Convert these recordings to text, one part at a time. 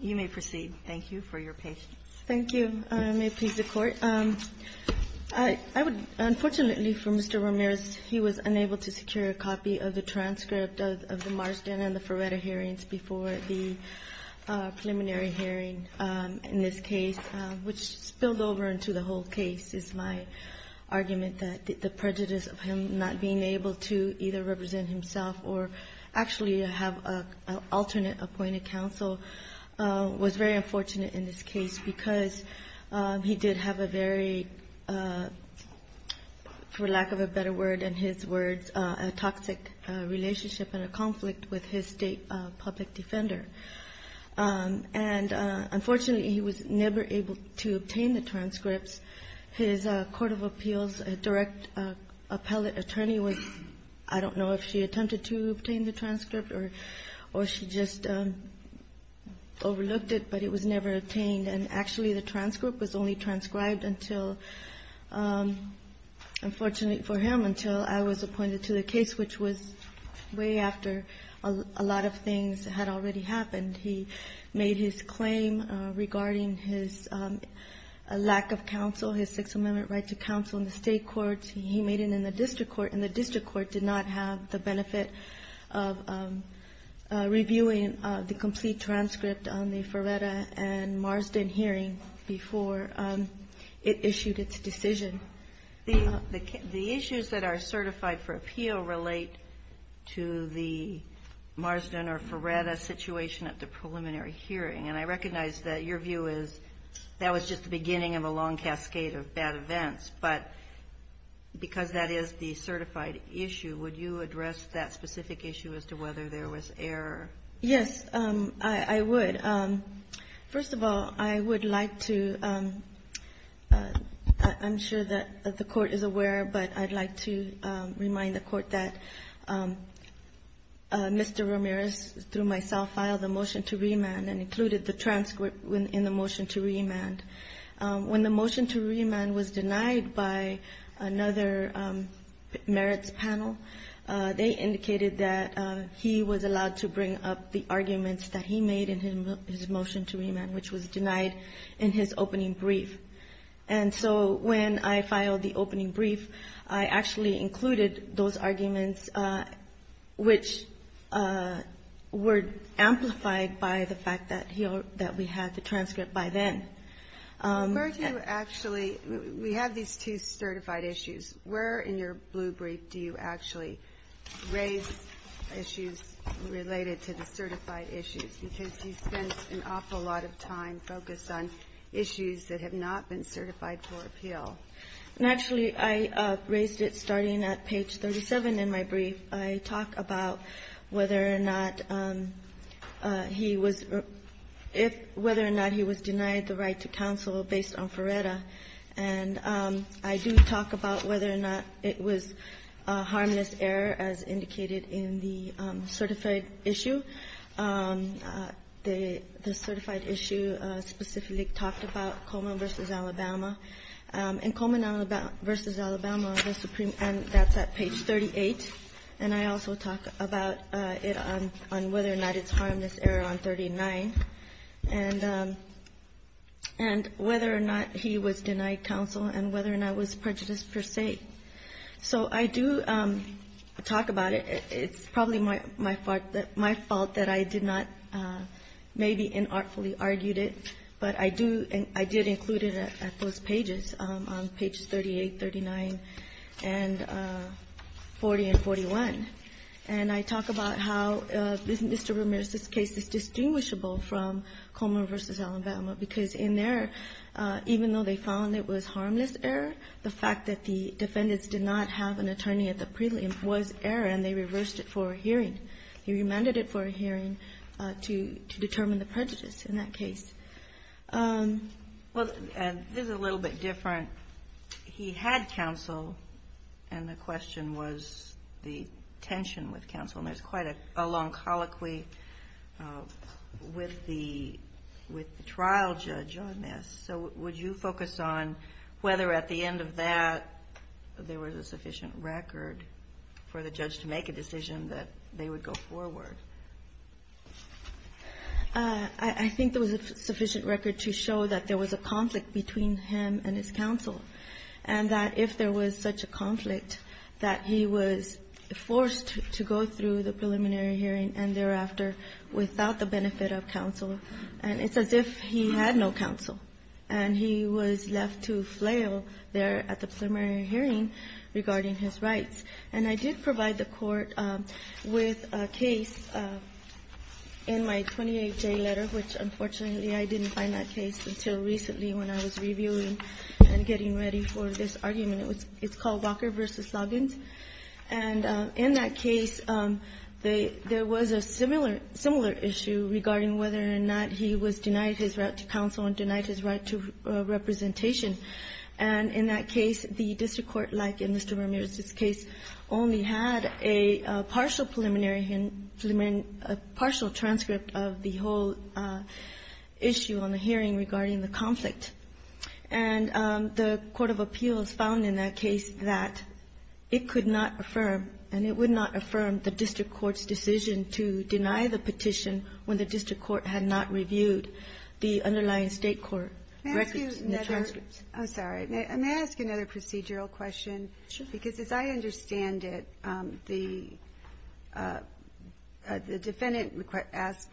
You may proceed. Thank you for your patience. Thank you. May it please the Court. Unfortunately for Mr. Ramirez, he was unable to secure a copy of the transcript of the Marsden and the Ferreira hearings before the preliminary hearing in this case, which spilled over into the whole case, is my argument that the prejudice of him not being able to either represent himself or actually have an alternate appointed counsel was very unfortunate in this case because he did have a very, for lack of a better word than his words, a toxic relationship and a conflict with his state public defender. And unfortunately, he was never able to obtain the transcripts. His court of appeals direct appellate attorney was, I don't know if she attempted to obtain the transcript or she just overlooked it, but it was never obtained. And actually, the transcript was only transcribed until, unfortunately for him, until I was appointed to the case, which was way after a lot of things had already happened. He made his claim regarding his lack of counsel, his Sixth Amendment right to counsel in the state courts. He made it in the district court, and the district court did not have the benefit of reviewing the complete transcript on the Ferreira and Marsden hearing before it issued its decision. The issues that are certified for appeal relate to the Marsden or Ferreira situation at the preliminary hearing. And I recognize that your view is that was just the beginning of a long cascade of bad events. But because that is the certified issue, would you address that specific issue as to whether there was error? Yes, I would. First of all, I would like to — I'm sure that the Court is aware, but I'd like to remind the Court that Mr. Ramirez, through myself, filed the motion to remand and included the transcript in the motion to remand. When the motion to remand was denied by another merits panel, they indicated that he was allowed to bring up the arguments that he made in his motion to remand, which was denied in his opening brief. And so when I filed the opening brief, I actually included those arguments which were amplified by the fact that he — that we had the transcript by then. Where do you actually — we have these two certified issues. Where in your blue brief do you actually raise issues related to the certified issues? Because he spends an awful lot of time focused on issues that have not been certified for appeal. Actually, I raised it starting at page 37 in my brief. I talk about whether or not he was — whether or not he was denied the right to counsel based on Ferreira. And I do talk about whether or not it was a harmless error, as indicated in the certified issue. The certified issue specifically talked about Coleman v. Alabama. In Coleman v. Alabama, the Supreme — and that's at page 38. And I also talk about it on whether or not it's a harmless error on 39. And whether or not he was denied counsel and whether or not it was prejudice per se. So I do talk about it. It's probably my fault that I did not maybe inartfully argued it, but I do — I did include it at those pages, on pages 38, 39, and 40, and 41. And I talk about how Mr. Ramirez's case is distinguishable from Coleman v. Alabama, because in there, even though they found it was harmless error, the fact that the defendants did not have an attorney at the prelim was error, and they reversed it for a hearing. He remanded it for a hearing to determine the prejudice in that case. Well, and this is a little bit different. He had counsel, and the question was the tension with counsel. And there's quite a long colloquy with the trial judge on this. So would you focus on whether at the end of that there was a sufficient record for the judge to make a decision that they would go forward? I think there was a sufficient record to show that there was a conflict between him and his counsel, and that if there was such a conflict, that he was forced to go through the preliminary hearing and thereafter without the benefit of counsel, and it's as if he had no counsel, and he was left to flail there at the preliminary hearing regarding his rights. And I did provide the Court with a case in my 28-J letter, which, unfortunately, I didn't find that case until recently when I was reviewing and getting ready for this argument. It's called Walker v. Loggins. And in that case, there was a similar issue regarding whether or not he was denied his right to counsel and denied his right to representation. And in that case, the district court, like in Mr. Vermeer's case, only had a partial preliminary hearing, a partial transcript of the whole issue on the hearing regarding the conflict. And the court of appeals found in that case that it could not affirm, and it would not affirm, the district court's decision to deny the petition when the district court had not reviewed the underlying state court records and transcripts. Ginsburg. I'm sorry. May I ask you another procedural question? Kagan. Sure. Ginsburg. Because as I understand it, the defendant asked,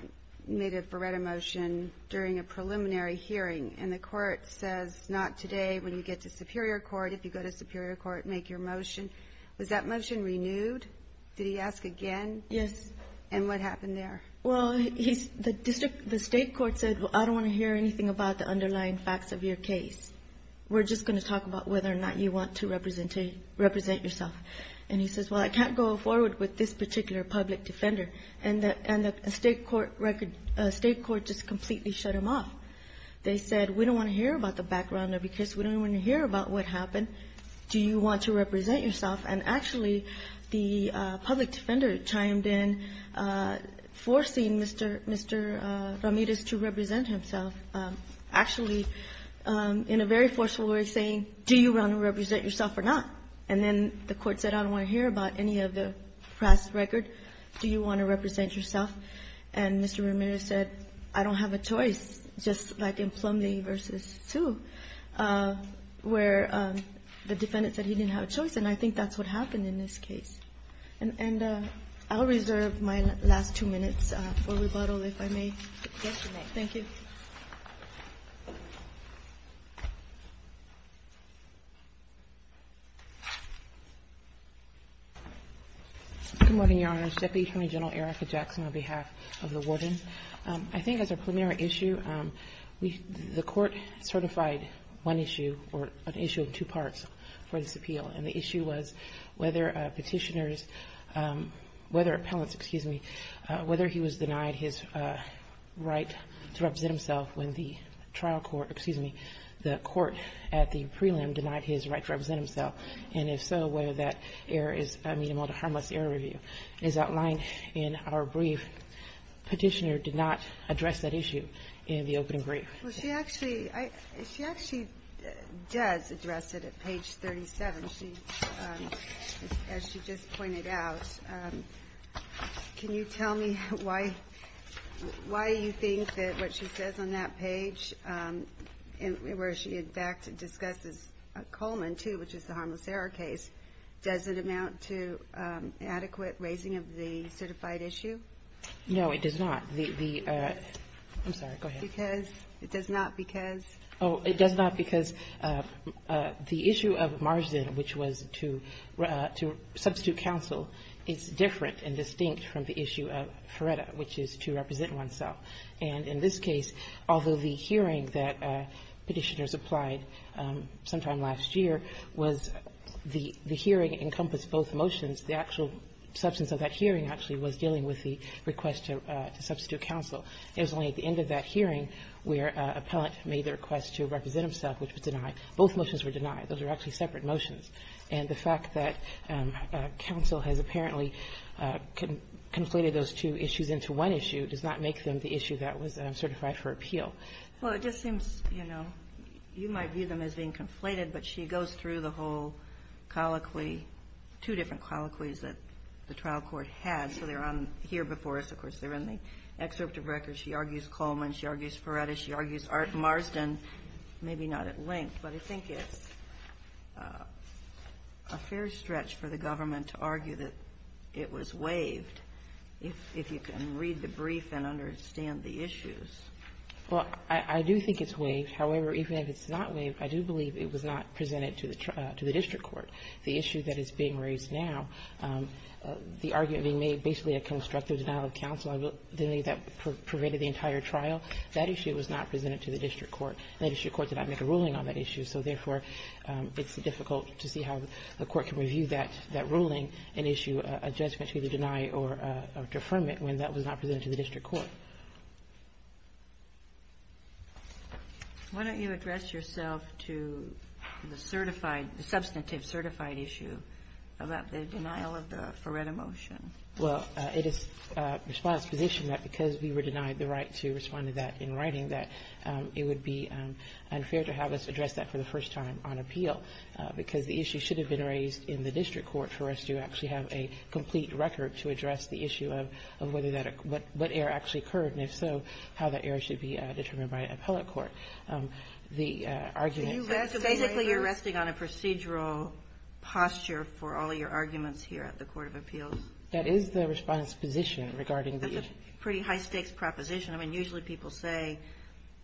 made a Beretta motion during a preliminary hearing, and the Court says not today. When you get to superior court, if you go to superior court, make your motion. Was that motion renewed? Did he ask again? Yes. And what happened there? Well, the state court said, well, I don't want to hear anything about the underlying facts of your case. We're just going to talk about whether or not you want to represent yourself. And he says, well, I can't go forward with this particular public defender. And the state court just completely shut him off. They said, we don't want to hear about the background of your case. We don't want to hear about what happened. Do you want to represent yourself? And actually, the public defender chimed in, forcing Mr. Ramirez to represent himself, actually in a very forceful way, saying, do you want to represent yourself or not? And then the Court said, I don't want to hear about any of the past record. Do you want to represent yourself? And Mr. Ramirez said, I don't have a choice, just like in Plumlee v. Sioux, where the defendant said he didn't have a choice. And I think that's what happened in this case. And I'll reserve my last two minutes for rebuttal, if I may. Thank you. Good morning, Your Honors. Deputy Attorney General Erica Jackson, on behalf of the warden. I think as a preliminary issue, the Court certified one issue, or an issue of two in the appeal, and the issue was whether Petitioner's – whether Appellant's – excuse me – whether he was denied his right to represent himself when the trial court – excuse me – the court at the prelim denied his right to represent himself, and if so, whether that error is – I mean, the harmless error review is outlined in our brief. Petitioner did not address that issue in the opening brief. Well, she actually – she actually does address it at page 37. She – as she just pointed out. Can you tell me why you think that what she says on that page, where she in fact discusses Coleman, too, which is the harmless error case, does it amount to adequate raising of the certified issue? No, it does not. The – I'm sorry, go ahead. It does not because – it does not because – Oh, it does not because the issue of Marzin, which was to substitute counsel, is different and distinct from the issue of Feretta, which is to represent oneself, and in this case, although the hearing that Petitioner's applied sometime last year was – the hearing encompassed both motions, the actual substance of that hearing actually was dealing with the request to substitute counsel. It was only at the end of that hearing where an appellant made the request to represent himself, which was denied. Both motions were denied. Those are actually separate motions, and the fact that counsel has apparently conflated those two issues into one issue does not make them the issue that was certified for appeal. Well, it just seems, you know, you might view them as being conflated, but she goes through the whole colloquy, two different colloquies that the trial court has. So they're on here before us. Of course, they're in the excerpt of records. She argues Coleman. She argues Feretta. She argues Marzin, maybe not at length, but I think it's a fair stretch for the government to argue that it was waived, if you can read the brief and understand the issues. Well, I do think it's waived. However, even if it's not waived, I do believe it was not presented to the district court. The issue that is being raised now, the argument being made basically a constructive denial of counsel. I believe that pervaded the entire trial. That issue was not presented to the district court. The district court did not make a ruling on that issue. So therefore, it's difficult to see how the court can review that ruling and issue a judgment to either deny or deferment when that was not presented to the district court. Why don't you address yourself to the certified, the substantive certified issue about the denial of the Feretta motion? Well, it is response position that because we were denied the right to respond to that in writing that it would be unfair to have us address that for the first time on appeal because the issue should have been raised in the district court for us to actually have a complete record to address the issue of whether that, what error actually occurred, and if so, how that error should be determined by appellate court. The argument. So basically, you're resting on a procedural posture for all of your arguments here at the Court of Appeals? That is the response position regarding the issue. That's a pretty high stakes proposition. I mean, usually people say,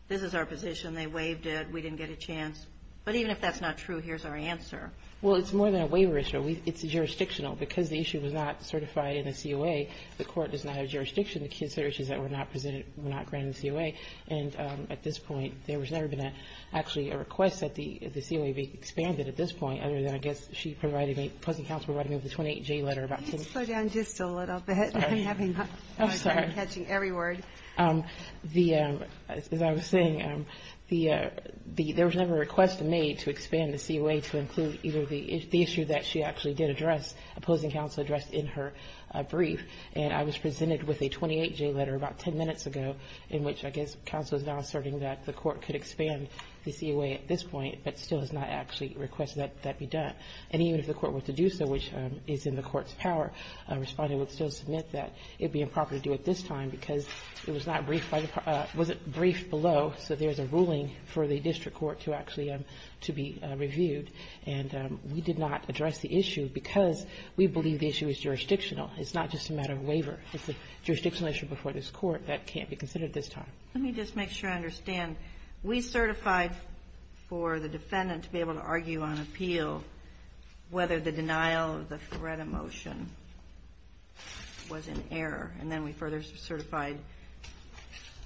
this is our position. They waived it. We didn't get a chance. But even if that's not true, here's our answer. Well, it's more than a waiver issue. It's jurisdictional. Because the issue was not certified in the COA, the Court does not have jurisdiction to consider issues that were not presented, were not granted the COA. And at this point, there has never been actually a request that the COA be expanded at this point, other than I guess she provided me, pleasant counsel provided me with a 28J letter about this. Can you slow down just a little bit? I'm having a hard time catching every word. As I was saying, there was never a request made to expand the COA to include either the issue that she actually did address, opposing counsel addressed in her brief. And I was presented with a 28J letter about ten minutes ago in which I guess counsel is now asserting that the Court could expand the COA at this point, but still has not actually requested that that be done. And even if the Court were to do so, which is in the Court's power, Respondent would still submit that it would be improper to do it this time because it was not briefed by the Part of the Court. It wasn't briefed below, so there's a ruling for the district court to actually be to be reviewed. And we did not address the issue because we believe the issue is jurisdictional. It's not just a matter of waiver. It's a jurisdictional issue before this Court that can't be considered this time. Let me just make sure I understand. We certified for the defendant to be able to argue on appeal whether the denial or the threat of motion was an error, and then we further certified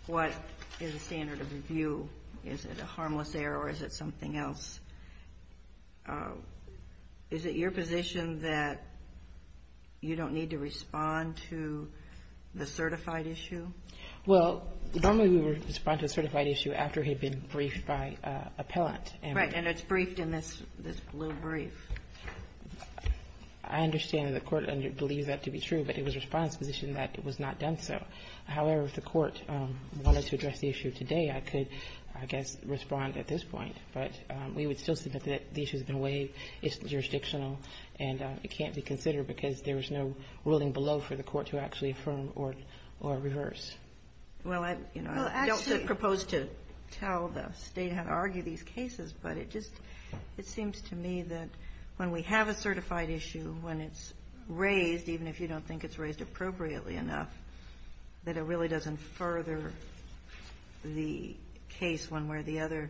what is a standard of review. Is it a harmless error or is it something else? Is it your position that you don't need to respond to the certified issue? Well, normally we would respond to a certified issue after it had been briefed by an appellant. Right. And it's briefed in this blue brief. I understand that the Court believes that to be true, but it was Respondent's position that it was not done so. However, if the Court wanted to address the issue today, I could, I guess, respond at this point. But we would still submit that the issue has been waived, it's jurisdictional, and it can't be considered because there is no ruling below for the Court to actually affirm or reverse. Well, I don't propose to tell the State how to argue these cases, but it just seems to me that when we have a certified issue, when it's raised, even if you don't think it's raised appropriately enough, that it really doesn't further the case one way or the other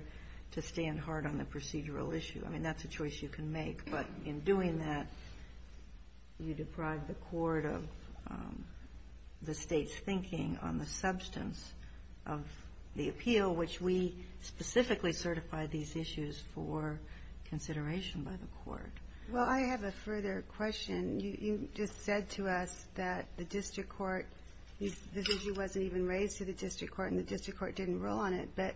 to stand hard on the procedural issue. I mean, that's a choice you can make. But in doing that, you deprive the Court of the State's thinking on the substance of the appeal, which we specifically certify these issues for consideration by the Court. Well, I have a further question. You just said to us that the district court, the issue wasn't even raised to the district court and the district court didn't rule on it. But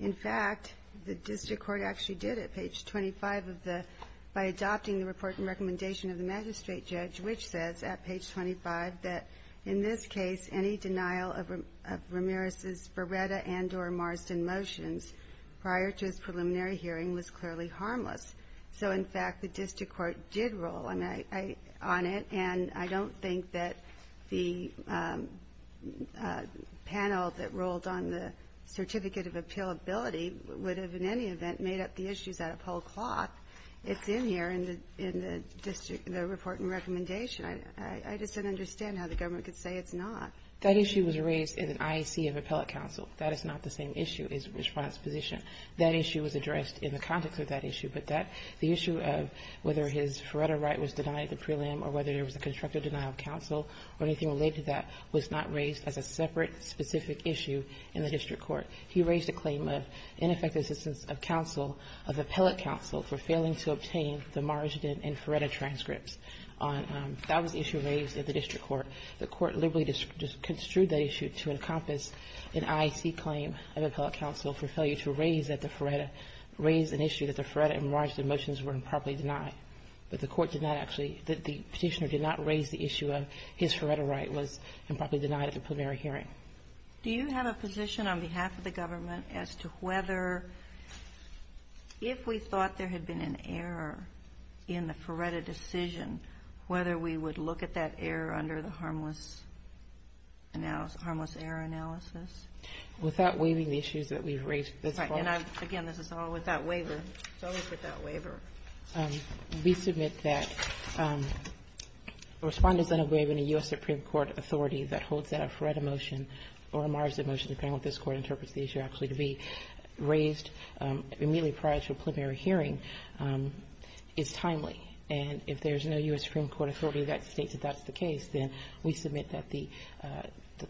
in fact, the district court actually did it, page 25 of the, by adopting the report and recommendation of the magistrate judge, which says at page 25 that in this case, any denial of Ramirez's Beretta and or Marsden motions prior to his preliminary hearing was clearly harmless. So in fact, the district court did rule. I mean, on it. And I don't think that the panel that ruled on the certificate of appealability would have in any event made up the issues out of whole cloth. It's in here in the district, the report and recommendation. I just don't understand how the government could say it's not. That issue was raised in an IAC of appellate counsel. That is not the same issue as response position. That issue was addressed in the context of that issue. But that, the issue of whether his Beretta right was denied at the prelim or whether there was a constructive denial of counsel or anything related to that was not raised as a separate specific issue in the district court. He raised a claim of ineffective assistance of counsel, of appellate counsel, for failing to obtain the Marsden and Beretta transcripts. That was the issue raised at the district court. The court liberally construed that issue to encompass an IAC claim of appellate counsel for failure to raise an issue that the Beretta and Marsden motions were improperly denied. But the court did not actually, the petitioner did not raise the issue of his Beretta right was improperly denied at the preliminary hearing. Do you have a position on behalf of the government as to whether, if we thought there had been an error in the Beretta decision, whether we would look at that error under the harmless error analysis? Without waiving the issues that we've raised thus far? Right. And I've, again, this is all without waiver. It's always without waiver. We submit that Respondents that have waived any U.S. Supreme Court authority that holds that a Beretta motion or a Marsden motion, depending on what this Court interprets the issue actually to be, raised immediately prior to a preliminary hearing is timely. And if there's no U.S. Supreme Court authority that states that that's the case, then we submit that the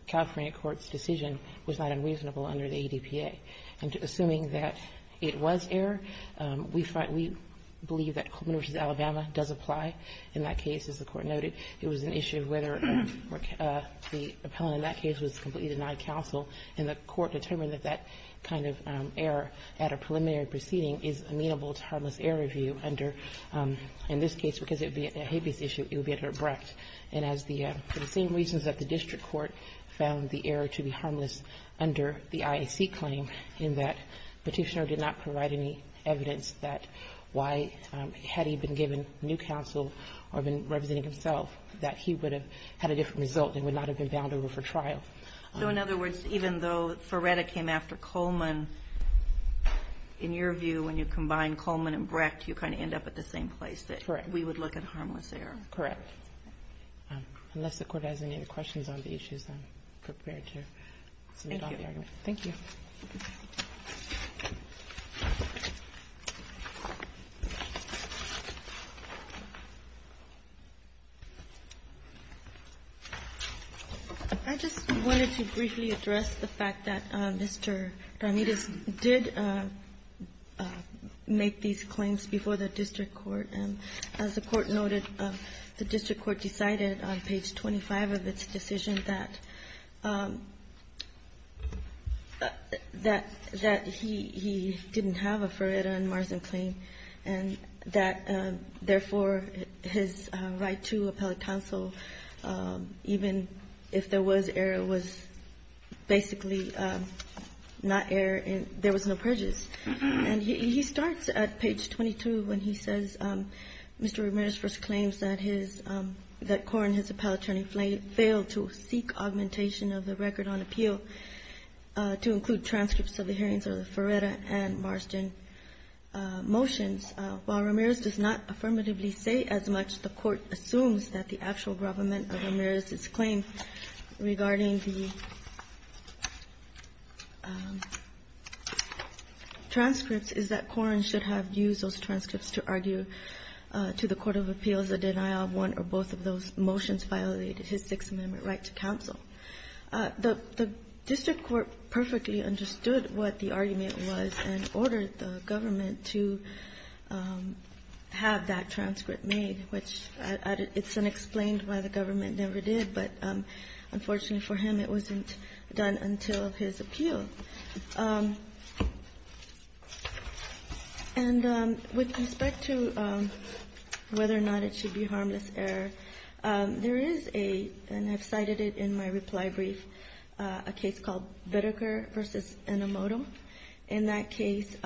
California court's decision was not unreasonable under the ADPA. And assuming that it was error, we believe that Coleman v. Alabama does apply in that case, as the Court noted. It was an issue of whether the appellant in that case was completely denied counsel, and the Court determined that that kind of error at a preliminary proceeding is amenable to harmless error review under, in this case, because it would be a habeas issue, it would be under Brecht. And as the same reasons that the district court found the error to be harmless under the IAC claim, in that Petitioner did not provide any evidence that why, had he been given new counsel or been representing himself, that he would have had a different result and would not have been bound over for trial. So, in other words, even though Beretta came after Coleman, in your view, when you combine Coleman and Brecht, you kind of end up at the same place, that we would look at harmless error. Correct. Unless the Court has any other questions on the issues, I'm prepared to submit on the argument. Thank you. I just wanted to briefly address the fact that Mr. Darmides did make these claims before the district court. As the Court noted, the district court decided on page 25 of its decision that he didn't have a Ferreira and Marsden claim, and that, therefore, his right to appellate counsel, even if there was error, was basically not error and there was no purges. And he starts at page 22 when he says, Mr. Ramirez first claims that his — that Corrin, his appellate attorney, failed to seek augmentation of the record on appeal to include transcripts of the hearings of the Ferreira and Marsden motions. While Ramirez does not affirmatively say as much, the Court assumes that the actual government of Ramirez's claim regarding the transcripts is that Corrin should have used those transcripts to argue to the court of appeals a denial of one or both of those motions violated his Sixth Amendment right to counsel. The district court perfectly understood what the argument was and ordered the government to have that transcript made, which it's unexplained why the government never did, but unfortunately for him, it wasn't done until his appeal. And with respect to whether or not it should be harmless error, there is a, and I've cited it in my reply brief, a case called Bittiker v. Enomoto. In that case,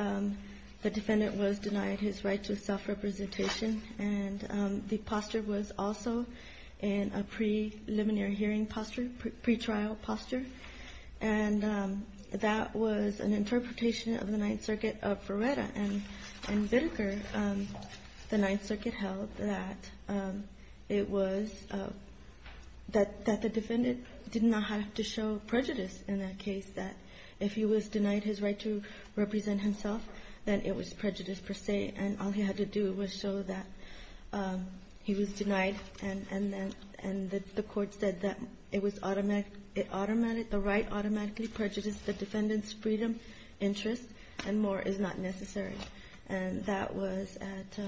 the defendant was denied his right to self-representation, and the posture was also in a preliminary hearing posture, pretrial posture. And that was an interpretation of the Ninth Circuit of Ferreira and Bittiker. The Ninth Circuit held that it was — that the defendant did not have to show prejudice in that case, that if he was denied his right to represent himself, then it was prejudice per se, and all he had to do was show that he was denied. And the court said that it was automatic — it automatically — the right automatically prejudiced the defendant's freedom, interest, and more is not necessary. And that was at,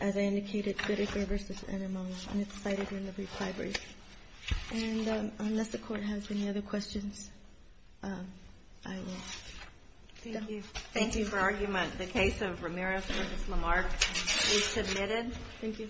as I indicated, Bittiker v. Enomoto, and it's cited in the brief And unless the Court has any other questions, I will stop. Thank you. Thank you for argument. The case of Ramirez v. Lamarck is submitted. Thank you.